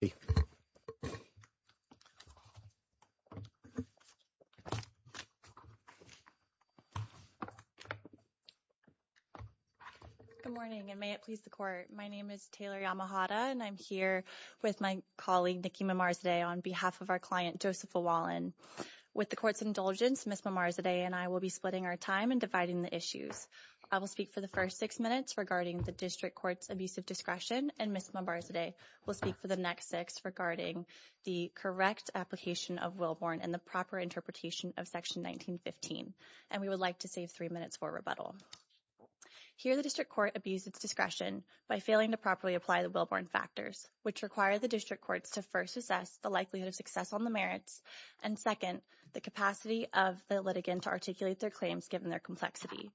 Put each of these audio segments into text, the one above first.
Good morning, and may it please the Court. My name is Taylor Yamahata, and I'm here with my colleague Nikki Mambarzadeh on behalf of our client, Joseph L. Wallin. With the Court's indulgence, Ms. Mambarzadeh and I will be splitting our time and dividing the issues. I will speak for the first six minutes regarding the District Court's abuse of discretion, and Ms. Mambarzadeh will speak for the next six regarding the correct application of Wilborn and the proper interpretation of Section 1915. And we would like to save three minutes for rebuttal. Here, the District Court abused its discretion by failing to properly apply the Wilborn factors, which require the District Courts to first assess the likelihood of success on the merits, and second, the capacity of the litigant to articulate their claims given their complexity.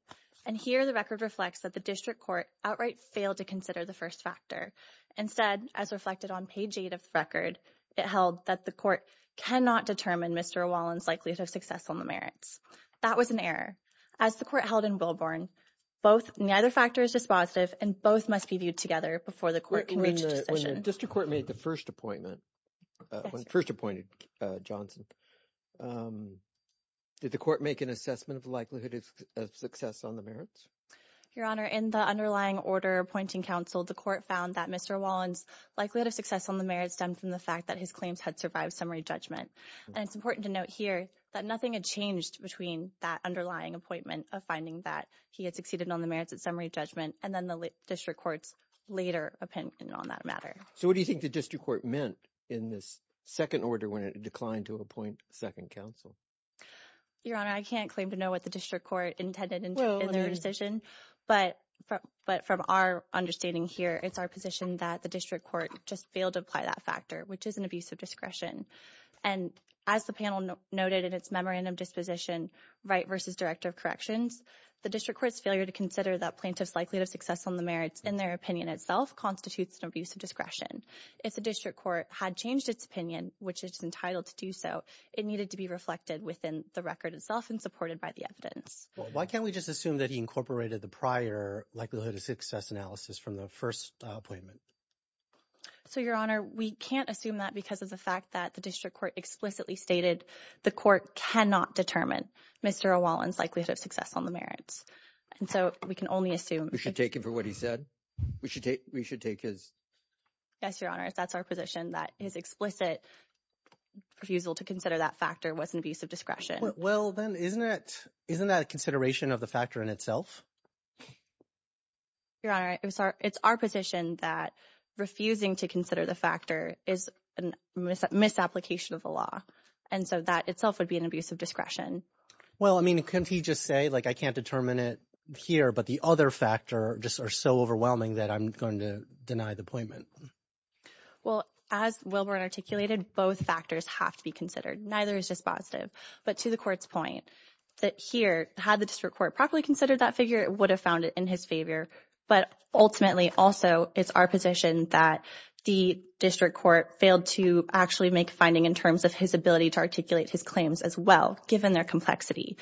And here, the record reflects that the District Court outright failed to consider the first factor. Instead, as reflected on page 8 of the record, it held that the Court cannot determine Mr. Wallin's likelihood of success on the merits. That was an error. As the Court held in Wilborn, neither factor is dispositive, and both must be viewed together before the Court can reach a decision. When the District Court made the first appointment, first appointed Johnson, did the Court make an assessment of the likelihood of success on the merits? Your Honor, in the underlying order appointing counsel, the Court found that Mr. Wallin's likelihood of success on the merits stemmed from the fact that his claims had survived summary judgment. And it's important to note here that nothing had changed between that underlying appointment of finding that he had succeeded on the merits at summary judgment and then the District Courts later opinion on that matter. So what do you think the District Court meant in this second order when it declined to appoint second counsel? Your Honor, I can't claim to know what the District Court intended in their decision, but from our understanding here, it's our position that the District Court just failed to apply that factor, which is an abuse of discretion. And as the panel noted in its memorandum disposition, Right v. Director of Corrections, the District Court's failure to consider that plaintiff's likelihood of success on the merits in their opinion itself constitutes an abuse of discretion. If the District Court had changed its opinion, which is entitled to do so, it needed to be reflected within the record itself and supported by the evidence. Well, why can't we just assume that he incorporated the prior likelihood of success analysis from the first appointment? So, Your Honor, we can't assume that because of the fact that the District Court explicitly stated the Court cannot determine Mr. Wallin's likelihood of success on the merits. And so we can only assume. We should take him for what he said. We should take we should take his. Yes, Your Honor, that's our position that his explicit refusal to consider that factor was an abuse of discretion. Well, then isn't it isn't that a consideration of the factor in itself? Your Honor, it's our position that refusing to consider the factor is a misapplication of the law. And so that itself would be an abuse of discretion. Well, I mean, can't he just say, like, I can't determine it here, but the other factor just are so overwhelming that I'm going to deny the appointment. Well, as Wilburn articulated, both factors have to be considered. Neither is just positive. But to the Court's point that here had the District Court properly considered that figure, it would have found it in his favor. But ultimately, also, it's our position that the District Court failed to actually make a finding in terms of his ability to articulate his claims as well, given their complexity.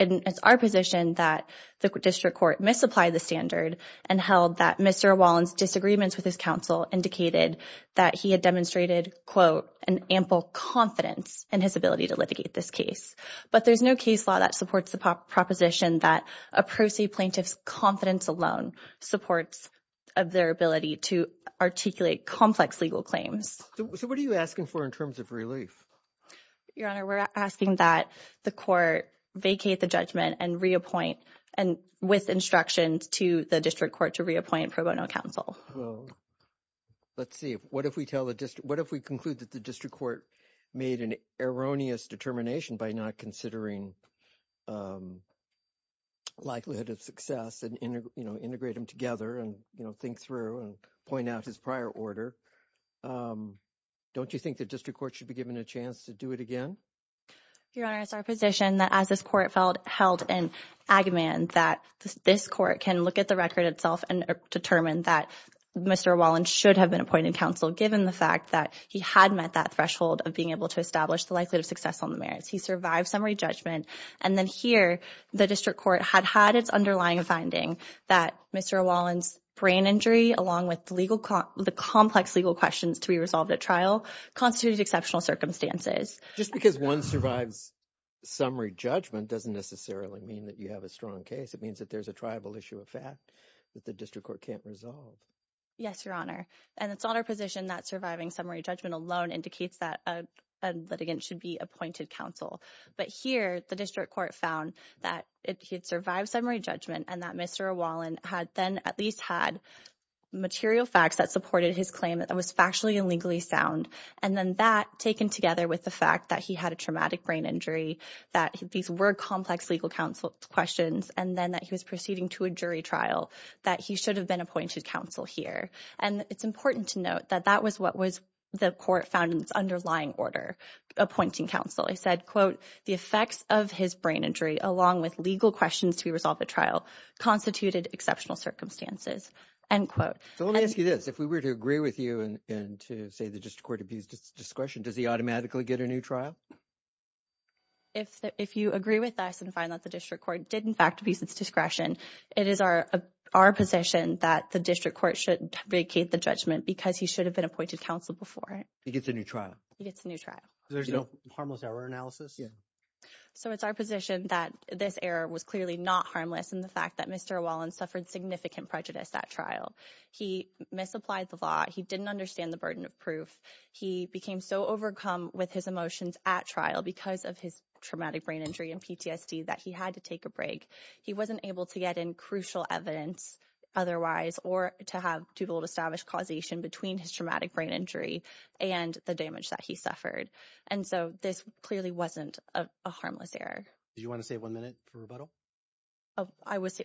It's our position that the District Court misapplied the standard and held that Mr. Wallen's disagreements with his counsel indicated that he had demonstrated, quote, an ample confidence in his ability to litigate this case. But there's no case law that supports the proposition that a pro se plaintiff's confidence alone supports of their ability to articulate complex legal claims. So what are you asking for in terms of relief? Your Honor, we're asking that the Court vacate the judgment and reappoint and with instructions to the District Court to reappoint pro bono counsel. Let's see. What if we conclude that the District Court made an erroneous determination by not considering likelihood of success and integrate them together and think through and point out his prior order? Don't you think the District Court should be given a chance to do it again? Your Honor, it's our position that as this Court held in Agamemnon that this Court can look at the record itself and determine that Mr. Wallen should have been appointed counsel given the fact that he had met that threshold of being able to establish the likelihood of success on the merits. He survived summary judgment and then here the District Court had had its underlying finding that Mr. Wallen's brain injury along with the complex legal questions to be resolved at trial constituted exceptional circumstances. Just because one survives summary judgment doesn't necessarily mean that you have a strong case. It means that there's a tribal issue of fact that the District Court can't resolve. Yes, Your Honor, and it's on our position that surviving summary judgment alone indicates that a litigant should be appointed counsel. But here the District Court found that he had survived summary judgment and that Mr. Wallen had then at least had material facts that supported his claim that was factually and legally sound, and then that taken together with the fact that he had a traumatic brain injury, that these were complex legal counsel questions, and then that he was proceeding to a jury trial, that he should have been appointed counsel here. And it's important to note that that was what was the Court found in its underlying order appointing counsel. He said, quote, the effects of his brain injury along with legal questions to be resolved at trial constituted exceptional circumstances, end quote. So let me ask you this. If we were to agree with you and to say the District Court abused its discretion, does he automatically get a new trial? If you agree with us and find that the District Court did in fact abuse its discretion, it is our position that the District Court should vacate the judgment because he should have been appointed counsel before. He gets a new trial. He gets a new trial. There's no harmless error analysis? Yeah. So it's our position that this error was clearly not harmless in the fact that Mr. Wallen suffered significant prejudice at trial. He misapplied the law. He didn't understand the burden of proof. He became so overcome with his emotions at trial because of his traumatic brain injury and PTSD that he had to take a break. He wasn't able to get in crucial evidence otherwise or to have to be able to establish causation between his traumatic brain injury and the damage that he suffered. And so this clearly wasn't a harmless error. Do you want to say one minute for rebuttal?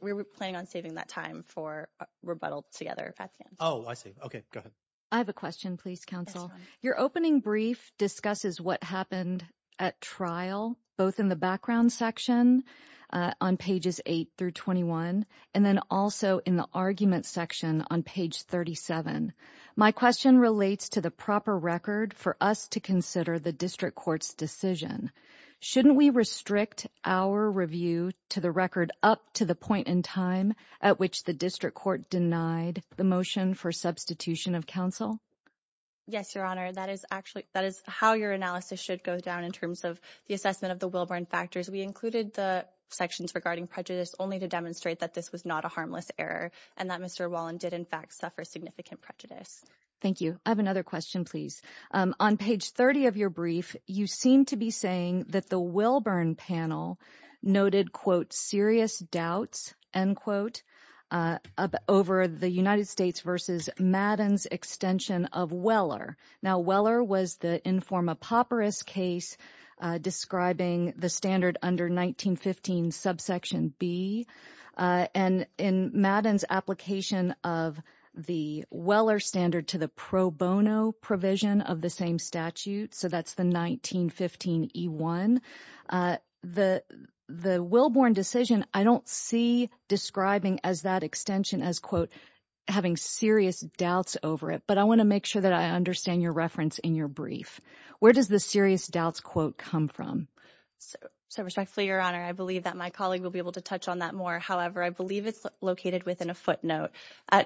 We were planning on saving that time for rebuttal together. Oh, I see. Okay, go ahead. I have a question, please, counsel. Your opening brief discusses what happened at trial, both in the background section on pages 8 through 21 and then also in the argument section on page 37. My question relates to the proper record for us to consider the District Court's decision. Shouldn't we restrict our review to the record up to the point in time at which the District Court denied the motion for substitution of counsel? Yes, Your Honor. That is actually, that is how your analysis should go down in terms of the assessment of the Wilburn factors. We included the sections regarding prejudice only to demonstrate that this was not a harmless error and that Mr. Wallen did, in fact, suffer significant prejudice. Thank you. I have seemed to be saying that the Wilburn panel noted, quote, serious doubts, end quote, over the United States versus Madden's extension of Weller. Now, Weller was the inform a papyrus case describing the standard under 1915 subsection B. And in Madden's application of the Weller standard to the pro bono provision of the same statute, so that's the 1915 E1, the Wilburn decision, I don't see describing as that extension as, quote, having serious doubts over it. But I want to make sure that I understand your reference in your brief. Where does the serious doubts, quote, come from? So respectfully, Your Honor, I believe that my colleague will be able to touch on that more. However, I believe it's located within a footnote.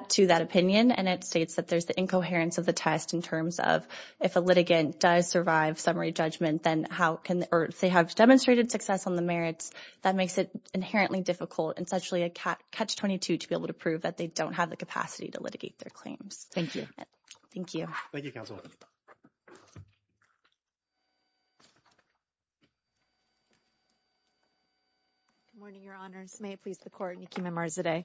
To that opinion, and it states that there's the incoherence of the test in terms of if a litigant does survive summary judgment, then how can, or if they have demonstrated success on the merits, that makes it inherently difficult, and it's actually a catch-22 to be able to prove that they don't have the capacity to litigate their claims. Thank you. Thank you. Thank you, Counsel. Good morning, Your Honors. May it please the Court, Niki Mammarzadeh.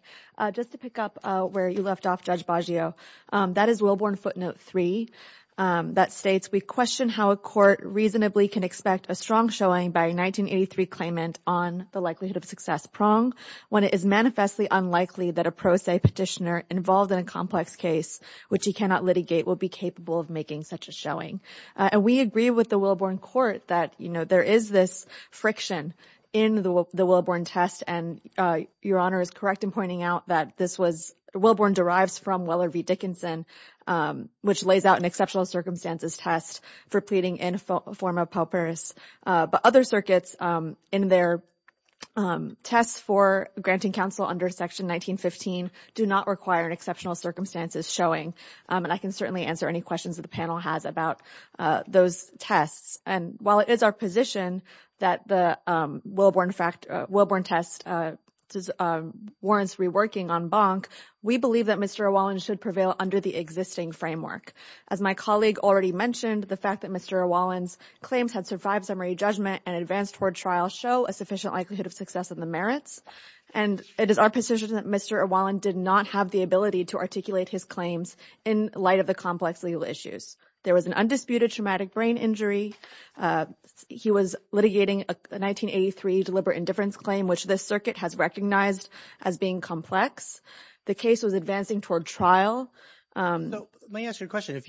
Just to pick up where you left off, Judge Baggio, that is Wilburn footnote three that states, we question how a court reasonably can expect a strong showing by a 1983 claimant on the likelihood of success prong when it is manifestly unlikely that a pro se petitioner involved in a complex case which he cannot litigate will be capable of making such a showing. And we agree with the Wilburn court that, you know, there is this friction in the Wilburn test, and Your Honor is correct in pointing out that this was, Wilburn derives from Weller v. Dickinson, which lays out an exceptional circumstances test for pleading in form of paupers. But other circuits in their tests for granting counsel under Section 1915 do not require an exceptional circumstances showing, and I can certainly answer any questions that the panel has about those tests. And while it is our position that the Wilburn test warrants reworking en banc, we believe that Mr. O'Wallen should prevail under the existing framework. As my colleague already mentioned, the fact that Mr. O'Wallen's claims had survived summary judgment and advanced toward trial show a sufficient likelihood of success in the merits, and it is our position that Mr. O'Wallen did not have the ability to articulate his claims in light of the complex legal issues. There was an undisputed traumatic brain injury. He was litigating a 1983 deliberate indifference claim, which this circuit has recognized as being complex. The case was advancing toward trial. No, let me ask you a question. If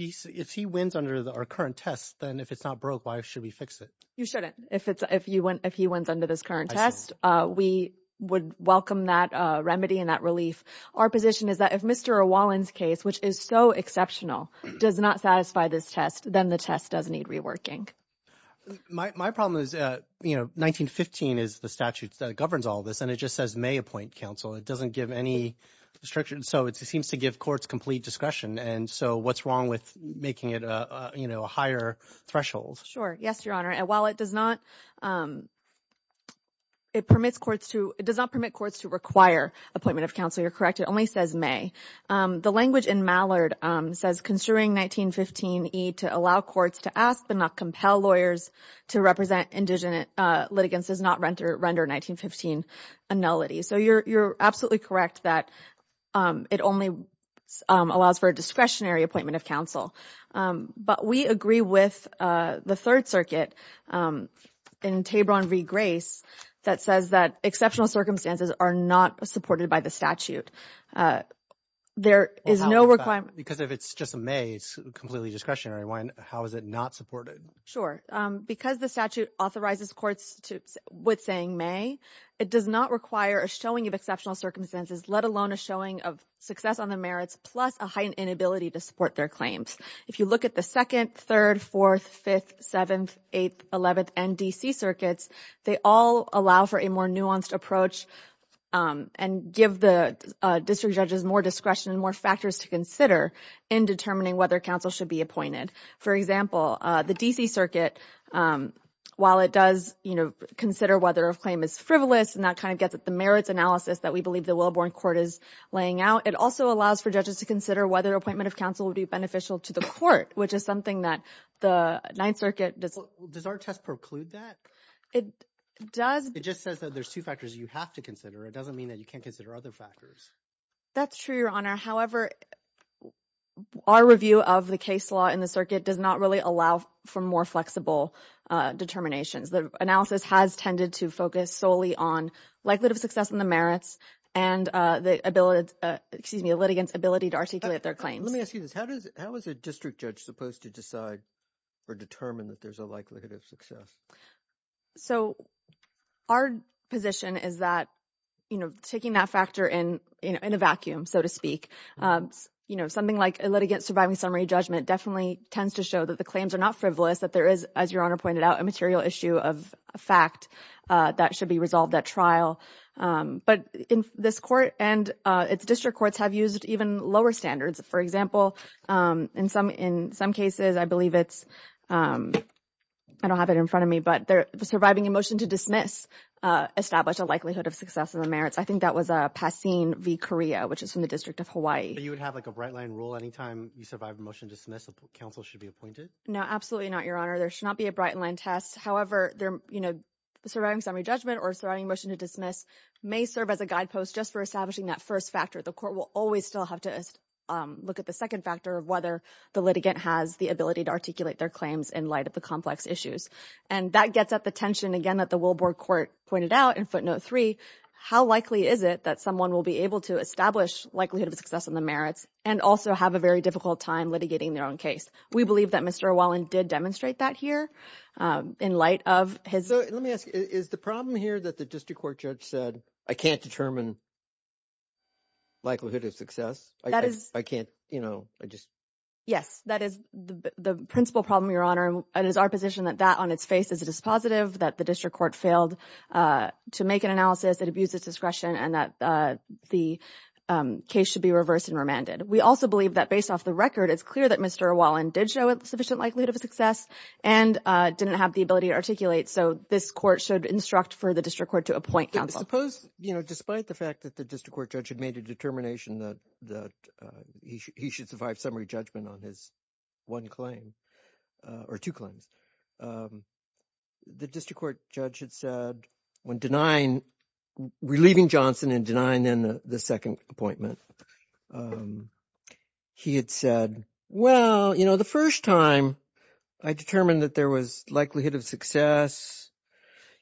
he wins under our current test, then if it's not broke, why should we fix it? You shouldn't. If he wins under this current test, we would welcome that remedy and that relief. Our position is that if Mr. O'Wallen's case, which is so exceptional, does not satisfy this test, then the test does need reworking. My problem is, you know, 1915 is the statute that governs all this, and it just says may appoint counsel. It doesn't give any restriction. So it seems to give courts complete discretion. And so what's wrong with making it, you know, a higher threshold? Sure. Yes, Your Honor. And while it does not, it permits courts to, it does not permit courts to require appointment of counsel. You're correct. It only says may. The language in Mallard says construing 1915E to allow courts to ask but not compel lawyers to represent indigenous litigants does not render 1915 a nullity. So you're absolutely correct that it only allows for a discretionary appointment of counsel. But we agree with the Third Circuit in Tabron v. Grace that says that exceptional circumstances are not supported by the statute. Well, how is that? Because if it's just a may, it's completely discretionary. How is it not supported? Sure. Because the statute authorizes courts with saying may, it does not require a showing of exceptional circumstances, let alone a showing of success on the merits, plus a heightened inability to support their claims. If you look at the Second, Third, Fourth, Fifth, Seventh, Eighth, Eleventh, and D.C. circuits, they all allow for a more nuanced approach and give the district judges more discretion and more factors to consider in determining whether counsel should be appointed. For example, the D.C. circuit, while it does, you know, consider whether a claim is frivolous, and that kind of gets at the merits analysis that we believe the Wilborn Court is laying out, it also allows for judges to consider whether appointment of counsel would be beneficial to the court, which is something that the Ninth Circuit does. Does our test preclude that? It does. It just says that there's two factors you have to consider. It doesn't mean that you can't consider other factors. That's true, Your Honor. However, our review of the case law in the circuit does not really allow for more flexible determinations. The analysis has tended to focus solely on likelihood of success in the merits and the ability, excuse me, the litigants' ability to articulate their claims. Let me ask you this. How is a district judge supposed to decide or determine that there's a likelihood of success? So, our position is that, you know, taking that factor in a vacuum, so to speak, you know, something like a litigant surviving summary judgment definitely tends to show that the claims are not frivolous, that there is, as Your Honor pointed out, a material issue of fact that should be resolved at trial. But this court and its district courts have used even lower standards. For example, in some cases, I believe it's, I don't have it in front of me, but they're surviving a motion to dismiss, establish a likelihood of success in the merits. I think that was a Pasin v. Correa, which is from the District of Hawaii. But you would have like a bright line rule anytime you survive a motion to dismiss, counsel should be appointed? No, absolutely not, Your Honor. There should not be a bright line test. However, you know, surviving summary judgment or surviving motion to dismiss may serve as a guidepost just for establishing that first factor. The court will always still have to look at the second factor of whether the litigant has the ability to articulate their claims in light of the complex issues. And that gets at the tension, again, that the Wilbour Court pointed out in footnote three, how likely is it that someone will be able to establish likelihood of success in the merits and also have a very difficult time litigating their own case? We believe that Mr. Wallin did demonstrate that here in light of his... Let me ask, is the problem here that the district court judge said, I can't determine likelihood of success? I can't, you know, I just... Yes, that is the principal problem, Your Honor. And it is our position that that on its face is a dispositive, that the district court failed to make an analysis that abuses discretion and that the case should be reversed and remanded. We also believe that based off the record, it's clear that Mr. Wallin did show a sufficient likelihood of success and didn't have the ability to articulate. So this court should instruct for the district court to appoint counsel. Suppose, you know, despite the fact that the district court judge had made a determination that he should survive summary judgment on his one claim or two claims, the district court judge had said when denying, relieving Johnson and denying the second appointment, he had said, well, you know, the first time I determined that there was likelihood of success,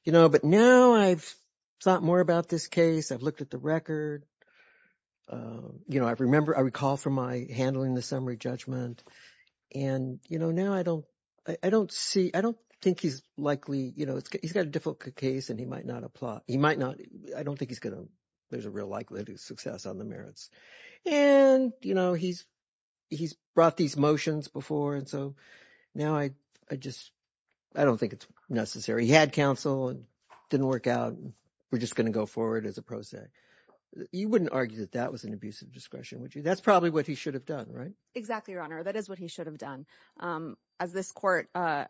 you know, but now I've thought more about this case. I've looked at the record. You know, I remember, I recall from my handling the summary judgment and, you know, now I don't, I don't see, I don't think he's likely, you know, he's got a difficult case and he might not apply. He might not. I don't think he's going to. There's a real likelihood of success on the before. And so now I, I just, I don't think it's necessary. He had counsel and didn't work out. We're just going to go forward as a pro se. You wouldn't argue that that was an abusive discretion, would you? That's probably what he should have done, right? Exactly. Your Honor. That is what he should have done. As this court, a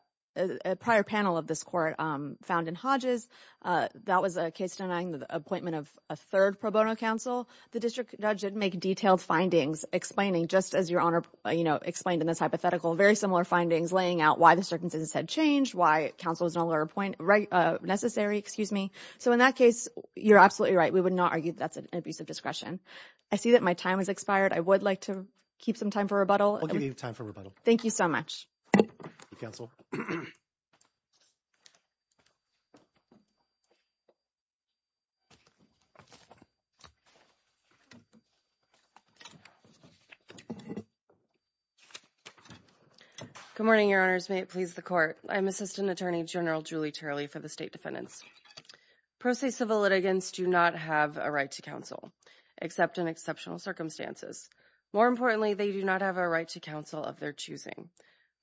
prior panel of this court found in Hodges, that was a case denying the appointment of a third pro bono counsel. The district judge didn't make detailed findings explaining just as your Honor, you know, explained in this hypothetical, very similar findings laying out why the circumstances had changed, why counsel was not allowed to appoint necessary, excuse me. So in that case, you're absolutely right. We would not argue that's an abusive discretion. I see that my time has expired. I would like to keep some time for rebuttal. I'll give you time for rebuttal. Thank you so much. Good morning, Your Honors. May it please the court. I'm Assistant Attorney General Julie Tarley for the State Defendants. Pro se civil litigants do not have a right to counsel, except in exceptional circumstances. More importantly, they do not have a right to counsel of their choosing.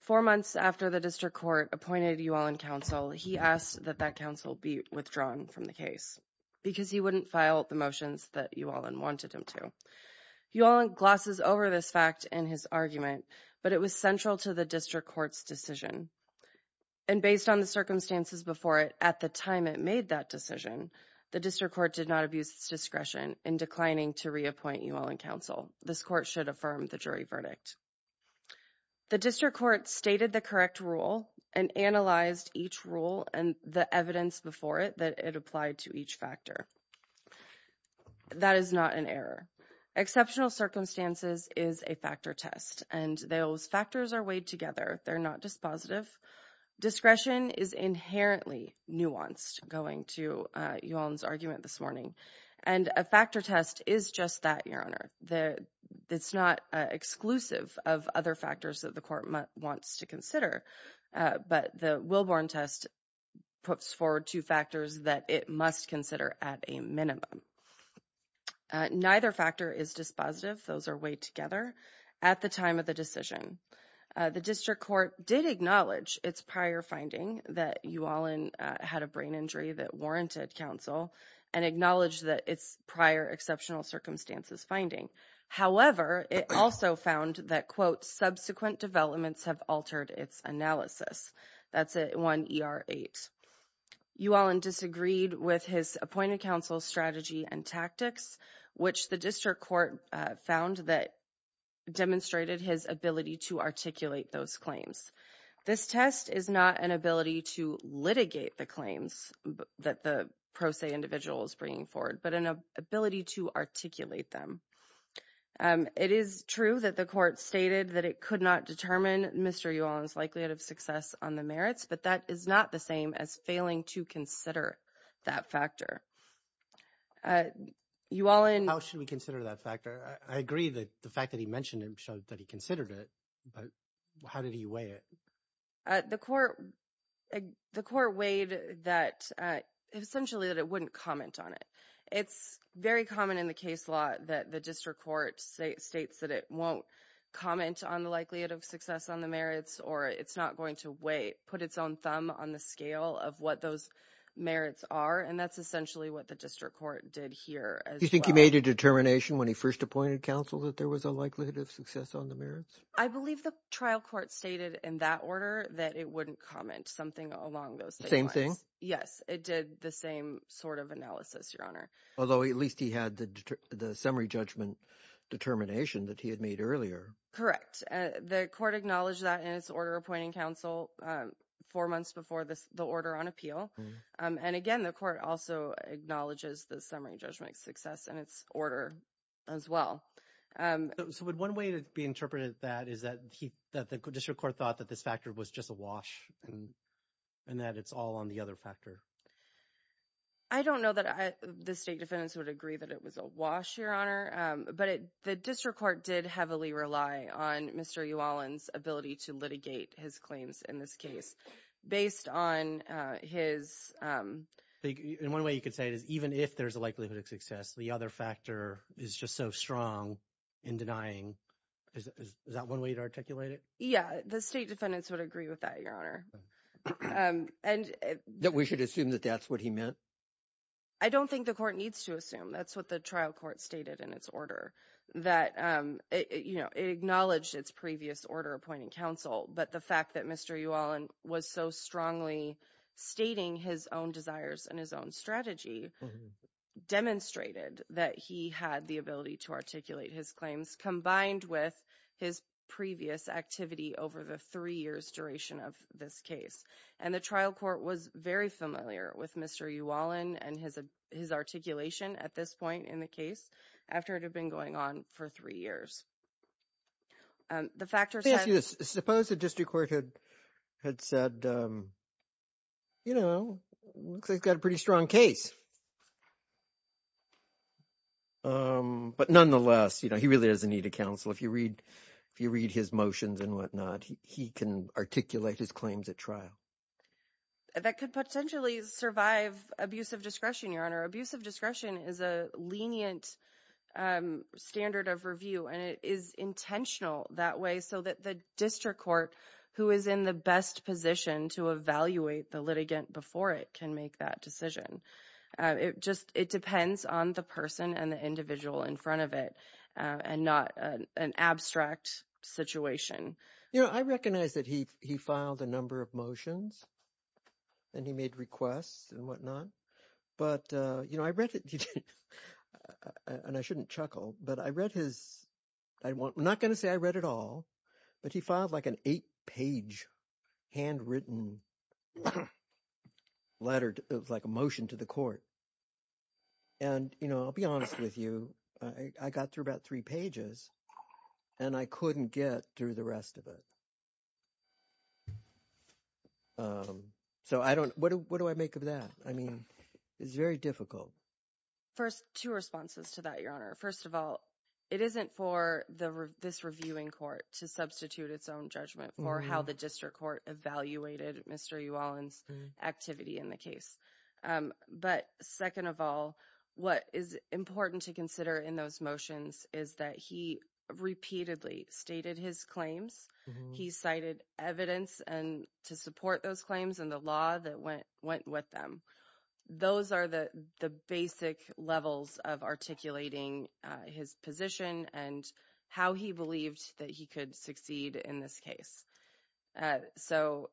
Four months after the district court appointed Uallen counsel, he asked that that counsel be withdrawn from the case because he wouldn't file the motions that Uallen wanted him to. Uallen glosses over this fact in his argument, but it was central to the district court's decision. And based on the circumstances before it, at the time it made that decision, the district court did not abuse its discretion in declining to reappoint Uallen counsel. This court should affirm the jury verdict. The district court stated the correct rule and analyzed each rule and the evidence before it that it applied to each factor. That is not an error. Exceptional circumstances is a factor test, and those factors are weighed together. They're not dispositive. Discretion is inherently nuanced, going to Uallen's argument this morning. And a factor test is just that, Your Honor. It's not exclusive of other factors that the court wants to consider, but the Wilborn test puts forward two factors that it must consider at a minimum. Neither factor is dispositive. Those are weighed together at the time of the decision. The district court did acknowledge its prior finding that Uallen had a brain injury that warranted counsel and acknowledged that its prior exceptional circumstances finding. However, it also found that, quote, subsequent developments have altered its analysis. That's one ER eight. Uallen disagreed with his appointed counsel's strategy and tactics, which the district court found that demonstrated his ability to articulate those claims. This test is not an ability to litigate the claims that the pro se individual is bringing forward, but an ability to articulate them. It is true that the court stated that it could not determine Mr. Uallen's likelihood of success on the merits, but that is not the same as failing to consider that factor. How should we consider that factor? I agree that the fact that he mentioned it that he considered it, but how did he weigh it? The court weighed that essentially that it wouldn't comment on it. It's very common in the case law that the district court states that it won't comment on the likelihood of success on the merits, or it's not going to weigh, put its own thumb on the scale of what those merits are, and that's essentially what the district court did here. Do you think he made a determination when he first appointed counsel that there was a likelihood of success on the merits? I believe the trial court stated in that order that it wouldn't comment something along those lines. Same thing? Yes, it did the same sort of analysis, Your Honor. Although at least he had the summary judgment determination that he had made earlier. Correct. The court acknowledged that in its order appointing counsel four months before the order on appeal, and again, the court also acknowledges the summary judgment success in its order as well. So would one way to be interpreted that is that the district court thought that this factor was just a wash, and that it's all on the other factor? I don't know that the state defendants would agree that it was a wash, Your Honor, but the district court did heavily rely on Mr. Uhalen's ability to litigate his claims in this case based on his... In one way you could say it is even if there's a likelihood of success, the other factor is just so strong in denying... Is that one way to articulate it? Yeah, the state defendants would agree with that, Your Honor. That we should assume that that's what he meant? I don't think the court needs to assume. That's what the trial court stated in its order that, you know, it acknowledged its previous order appointing counsel, but the fact that Mr. Uhalen was so strongly stating his own desires and his own strategy demonstrated that he had the ability to articulate his claims combined with his previous activity over the three years duration of this case. And the trial court was very familiar with Mr. Uhalen and his articulation at this point in the case after it had been going on for three years. The factors... Suppose the district court had said, you know, looks like he's got a pretty strong case. But nonetheless, you know, he really doesn't need a counsel. If you read his motions and whatnot, he can articulate his claims at trial. That could potentially survive abuse of discretion, Your Honor. Abuse of discretion is a lenient standard of review and it is intentional that way so that the district court who is in the best position to evaluate the litigant before it can make that decision. It just, it depends on the person and the individual in front of it and not an abstract situation. You know, I recognize that he filed a number of motions and he made requests and whatnot, but, you know, I read it and I shouldn't chuckle, but I read his... I'm not going to say I read it all, but he filed like an eight page handwritten letter of like a motion to the court. And, you know, I'll be honest with you, I got through about three pages and I couldn't get through the rest of it. So I don't... What do I make of that? I mean, it's very difficult. First, two responses to that, Your Honor. First of all, it isn't for this reviewing court to substitute its own judgment for how the district court evaluated Mr. Uhalen's activity in the case. But second of all, what is important to consider in those motions is that he repeatedly stated his claims, he cited evidence to support those claims and the law that went with them. Those are the basic levels of articulating his position and how he believed that he could succeed in this case. So,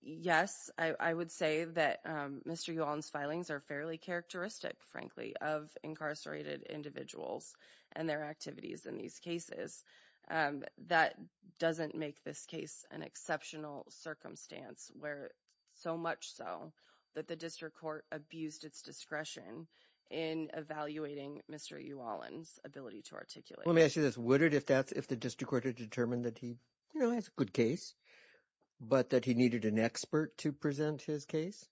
yes, I would say that Mr. Uhalen's filings are fairly characteristic, frankly, of incarcerated individuals and their activities in these cases. That doesn't make this case an exceptional circumstance where so much so that the district court abused its discretion in evaluating Mr. Uhalen's ability to articulate. Let me ask you this, would it if the district court had determined that he has a good case, but that he needed an expert to present his case?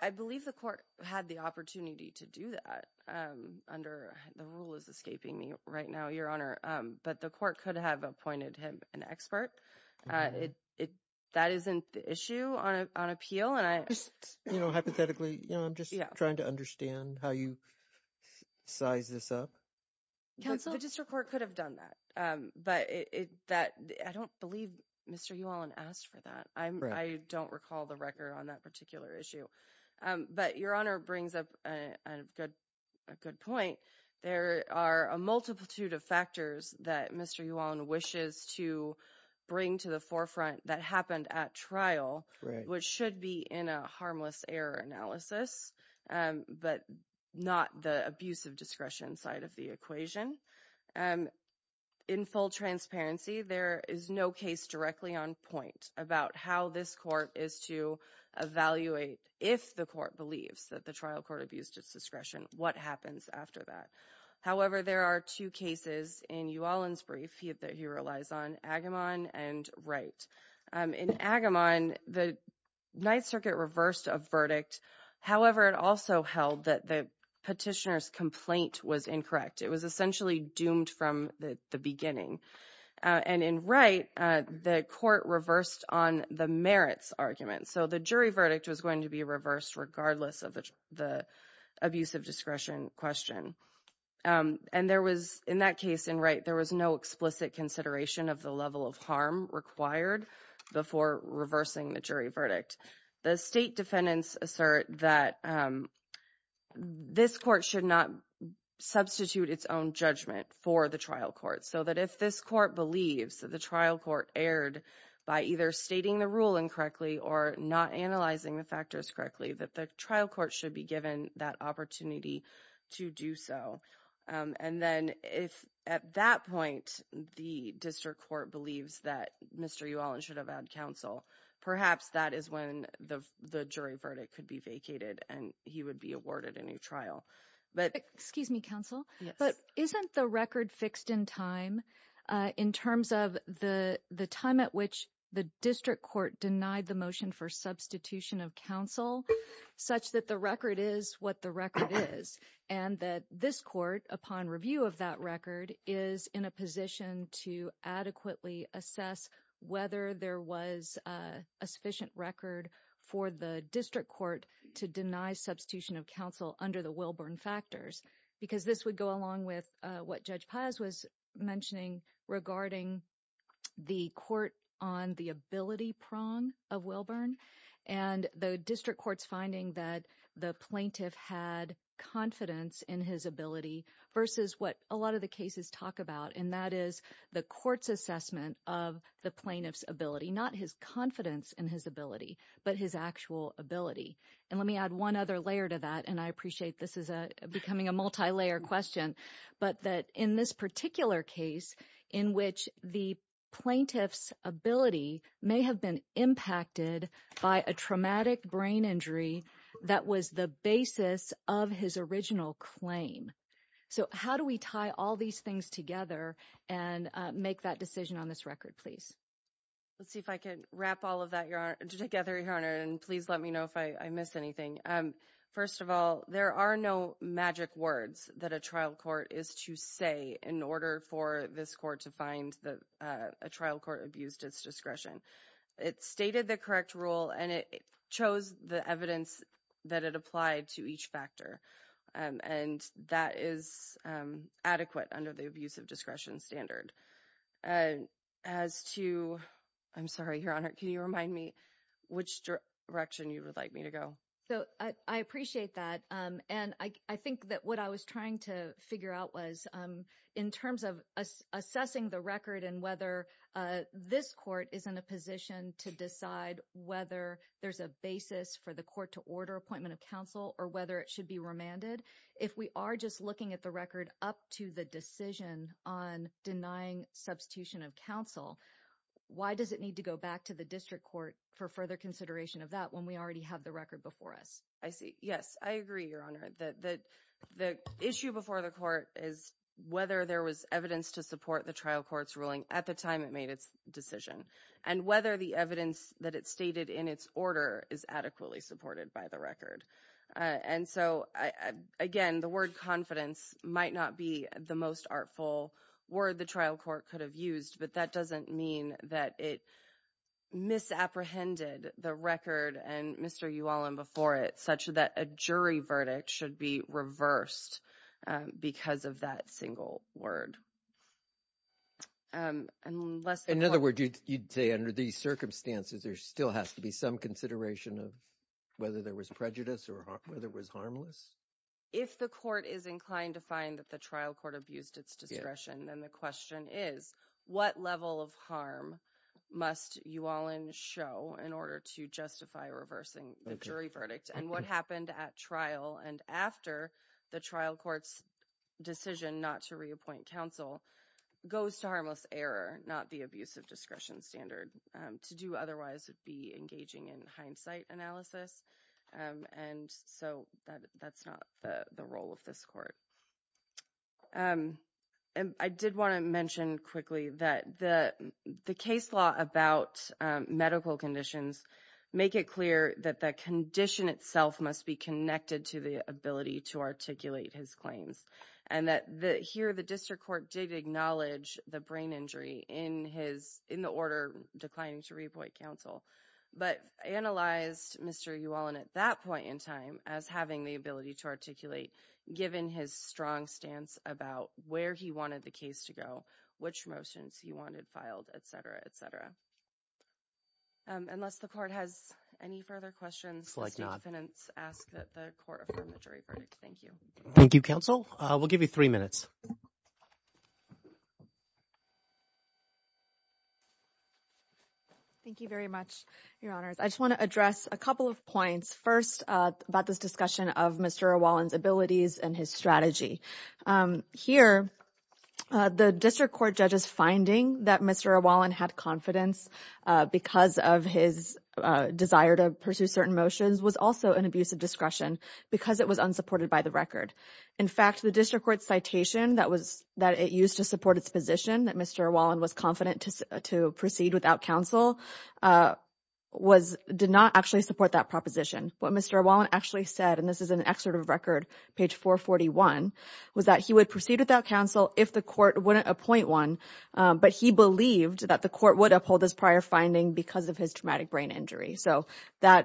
I believe the court had the opportunity to do that under... The rule is escaping me right now, Your Honor. But the court could have appointed him an expert. That isn't the issue on appeal. Hypothetically, I'm just trying to understand how you size this up. The district court could have done that, but I don't believe Mr. Uhalen asked for that. I don't recall the record on that particular issue. But Your Honor brings up a good point. There are a multitude of factors that Mr. Uhalen wishes to bring to the forefront that happened at trial, which should be in a harmless error analysis, but not the abuse of discretion side of the equation. In full transparency, there is no case directly on point about how this court is to evaluate if the court believes that the trial court abused its discretion, what happens after that. However, there are two cases in Uhalen's brief that he relies on, Agamon and Wright. In Agamon, the Ninth Circuit reversed a verdict. However, it also held that the petitioner's complaint was incorrect. It was essentially doomed from the beginning. And in Wright, the court reversed on the merits argument. So the jury verdict was going to be reversed regardless of the abuse of discretion question. And in that case in Wright, there was no explicit consideration of the level of harm required before reversing the jury verdict. The state defendants assert that this court should not substitute its own judgment for the trial court. So that if this court believes that the trial court erred by either stating the ruling correctly or not analyzing the factors correctly, that the trial court should be given that opportunity to do so. And then if at that point, the district court believes that Mr. Uhalen should have had counsel, perhaps that is when the jury verdict could be vacated and he would be awarded a new trial. But... Excuse me, counsel. But isn't the record fixed in time in terms of the time at which the district court denied the motion for substitution of counsel such that the record is what the record is, and that this court upon review of that record is in a position to adequately assess whether there was a sufficient record for the district court to deny substitution of counsel under the Wilburn factors? Because this would go along with what Judge Paz was mentioning regarding the court on the ability prong of Wilburn and the district court's finding that the plaintiff had confidence in his ability versus what a lot of the cases talk about, and that is the court's assessment of the plaintiff's ability, not his confidence in his ability, but his actual ability. And let me add one other layer to that, and I appreciate this is a becoming a multi-layer question, but that in this particular case in which the plaintiff's ability may have been impacted by a traumatic brain injury that was the basis of his original claim. So how do we tie all these things together and make that decision on this record, please? Let's see if I can wrap all of that together, Your Honor, and please let me know if I missed anything. First of all, there are no magic words that a trial court is to say in order for this court to find that a trial court abused its discretion. It stated the correct rule and it chose the evidence that it applied to each factor, and that is adequate under the abuse of discretion standard. As to, I'm sorry, Your Honor, can you remind me which direction you would like me to go? So I appreciate that, and I think that what I was trying to figure out was in terms of assessing the record and whether this court is in a position to decide whether there's a basis for the court to order appointment of counsel or whether it should be remanded. If we are just looking at the record up to the decision on denying substitution of counsel, why does it need to go back to the district court for further consideration of that when we already have the record before us? I see. Yes, I agree, Your Honor, that the issue before the court is whether there was evidence to support the trial court's ruling at the time it made its decision and whether the evidence that it stated in its order is adequately supported by the record. And so, again, the word confidence might not be the most artful word the trial court could have used, but that doesn't mean that it misapprehended the record and Mr. Uwalam before it such that a jury verdict should be reversed because of that single word. In other words, you'd say under these circumstances, there still has to be some consideration of whether there was prejudice or whether it was harmless? If the court is inclined to find that the trial court abused its discretion, then the question is what level of harm must Uwalam show in order to justify reversing the jury verdict and what happened at trial and after the trial court's decision not to reappoint counsel goes to harmless error, not the abuse of discretion standard to do otherwise would be engaging in hindsight analysis. And so that's not the role of this court. And I did want to mention quickly that the case law about medical conditions make it clear that the condition itself must be connected to the ability to articulate his claims and that the here the district court did acknowledge the brain injury in his in the order declining to reappoint counsel, but analyzed Mr. Uwalam at that point in time as having the ability to articulate given his strong stance about where he wanted the case to go, which motions he wanted filed, et cetera, et cetera. Unless the court has any further questions, let's not ask the court to affirm the jury verdict. Thank you. Thank you, counsel. We'll give you three minutes. Thank you very much, your honors. I just want to address a couple of points first about this discussion of Mr. Uwalam's abilities and his strategy. Here, the district court judges finding that Mr. Uwalam had confidence because of his desire to pursue certain motions was also an abuse of discretion because it was unsupported by the record. In fact, the district court citation that it used to support its position that Mr. Uwalam was confident to proceed without counsel did not actually support that proposition. What Mr. Uwalam actually said, and this is an excerpt of a record, page 441, was that he would proceed without counsel if the court wouldn't appoint one, but he believed that the court would uphold his prior finding because of his traumatic brain injury. I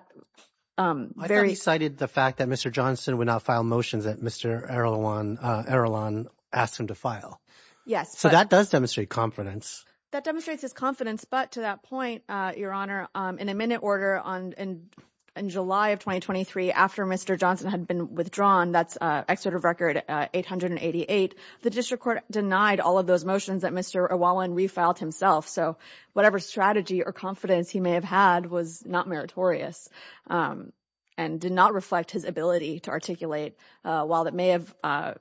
thought you cited the fact that Mr. Johnson would not file motions that Mr. Arulan asked him to file. Yes. That does demonstrate confidence. That demonstrates his confidence, but to that point, your honor, in a minute order in July of 2023, after Mr. Johnson had been withdrawn, that's an excerpt of record 888, the district court denied all of those motions that Mr. Uwalam refiled himself. Whatever strategy or confidence he may have had was not meritorious and did not reflect his ability to articulate. While it may have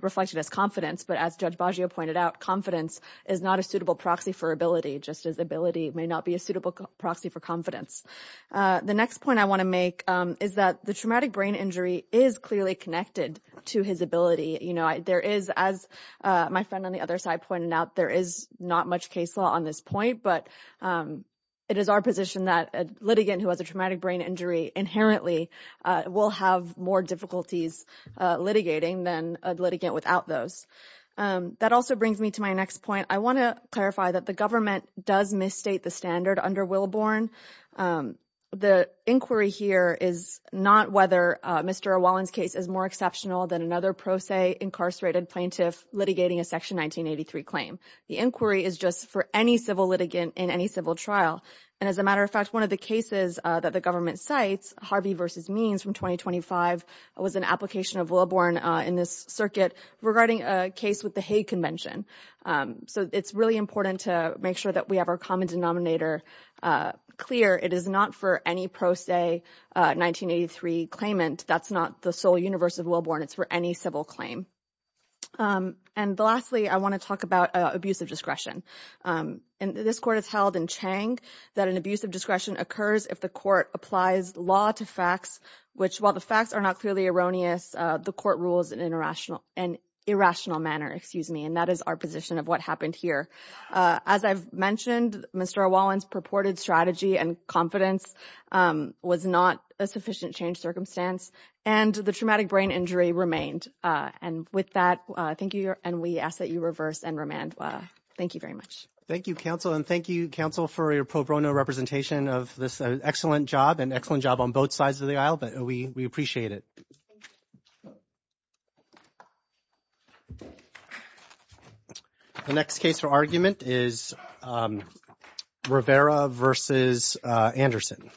reflected his confidence, but as Judge Baggio pointed out, confidence is not a suitable proxy for ability, just as ability may not be a suitable proxy for confidence. The next point I want to make is that the traumatic brain injury is clearly connected to his ability. There is, as my friend on the other side pointed out, there is not much case law on this point, but it is our position that a litigant who has a traumatic brain injury inherently will have more difficulties litigating than a litigant without those. That also brings me to my next point. I want to clarify that the government does misstate the standard under Williborne. The inquiry here is not whether Mr. Uwalan's case is more exceptional than another pro se incarcerated plaintiff litigating a section 1983 claim. The inquiry is just for any civil litigant in any civil trial. And as a matter of fact, one of the cases that the government cites, Harvey versus Means from 2025, was an application of Williborne in this circuit regarding a case with the Hague Convention. So it's really important to make sure that we have our common denominator clear. It is not for any pro se 1983 claimant. That's not the sole universe of Williborne. It's for any civil claim. And lastly, I want to talk about abusive discretion. And this court has held in Chang that an abusive discretion occurs if the court applies law to facts, which while the facts are not clearly erroneous, the court rules in an irrational manner. And that is our position of what happened here. As I've mentioned, Mr. Uwalan's and the traumatic brain injury remained. And with that, thank you. And we ask that you reverse and remand. Thank you very much. Thank you, counsel. And thank you, counsel, for your pro bono representation of this excellent job and excellent job on both sides of the aisle. But we appreciate it. The next case for argument is Rivera versus Anderson.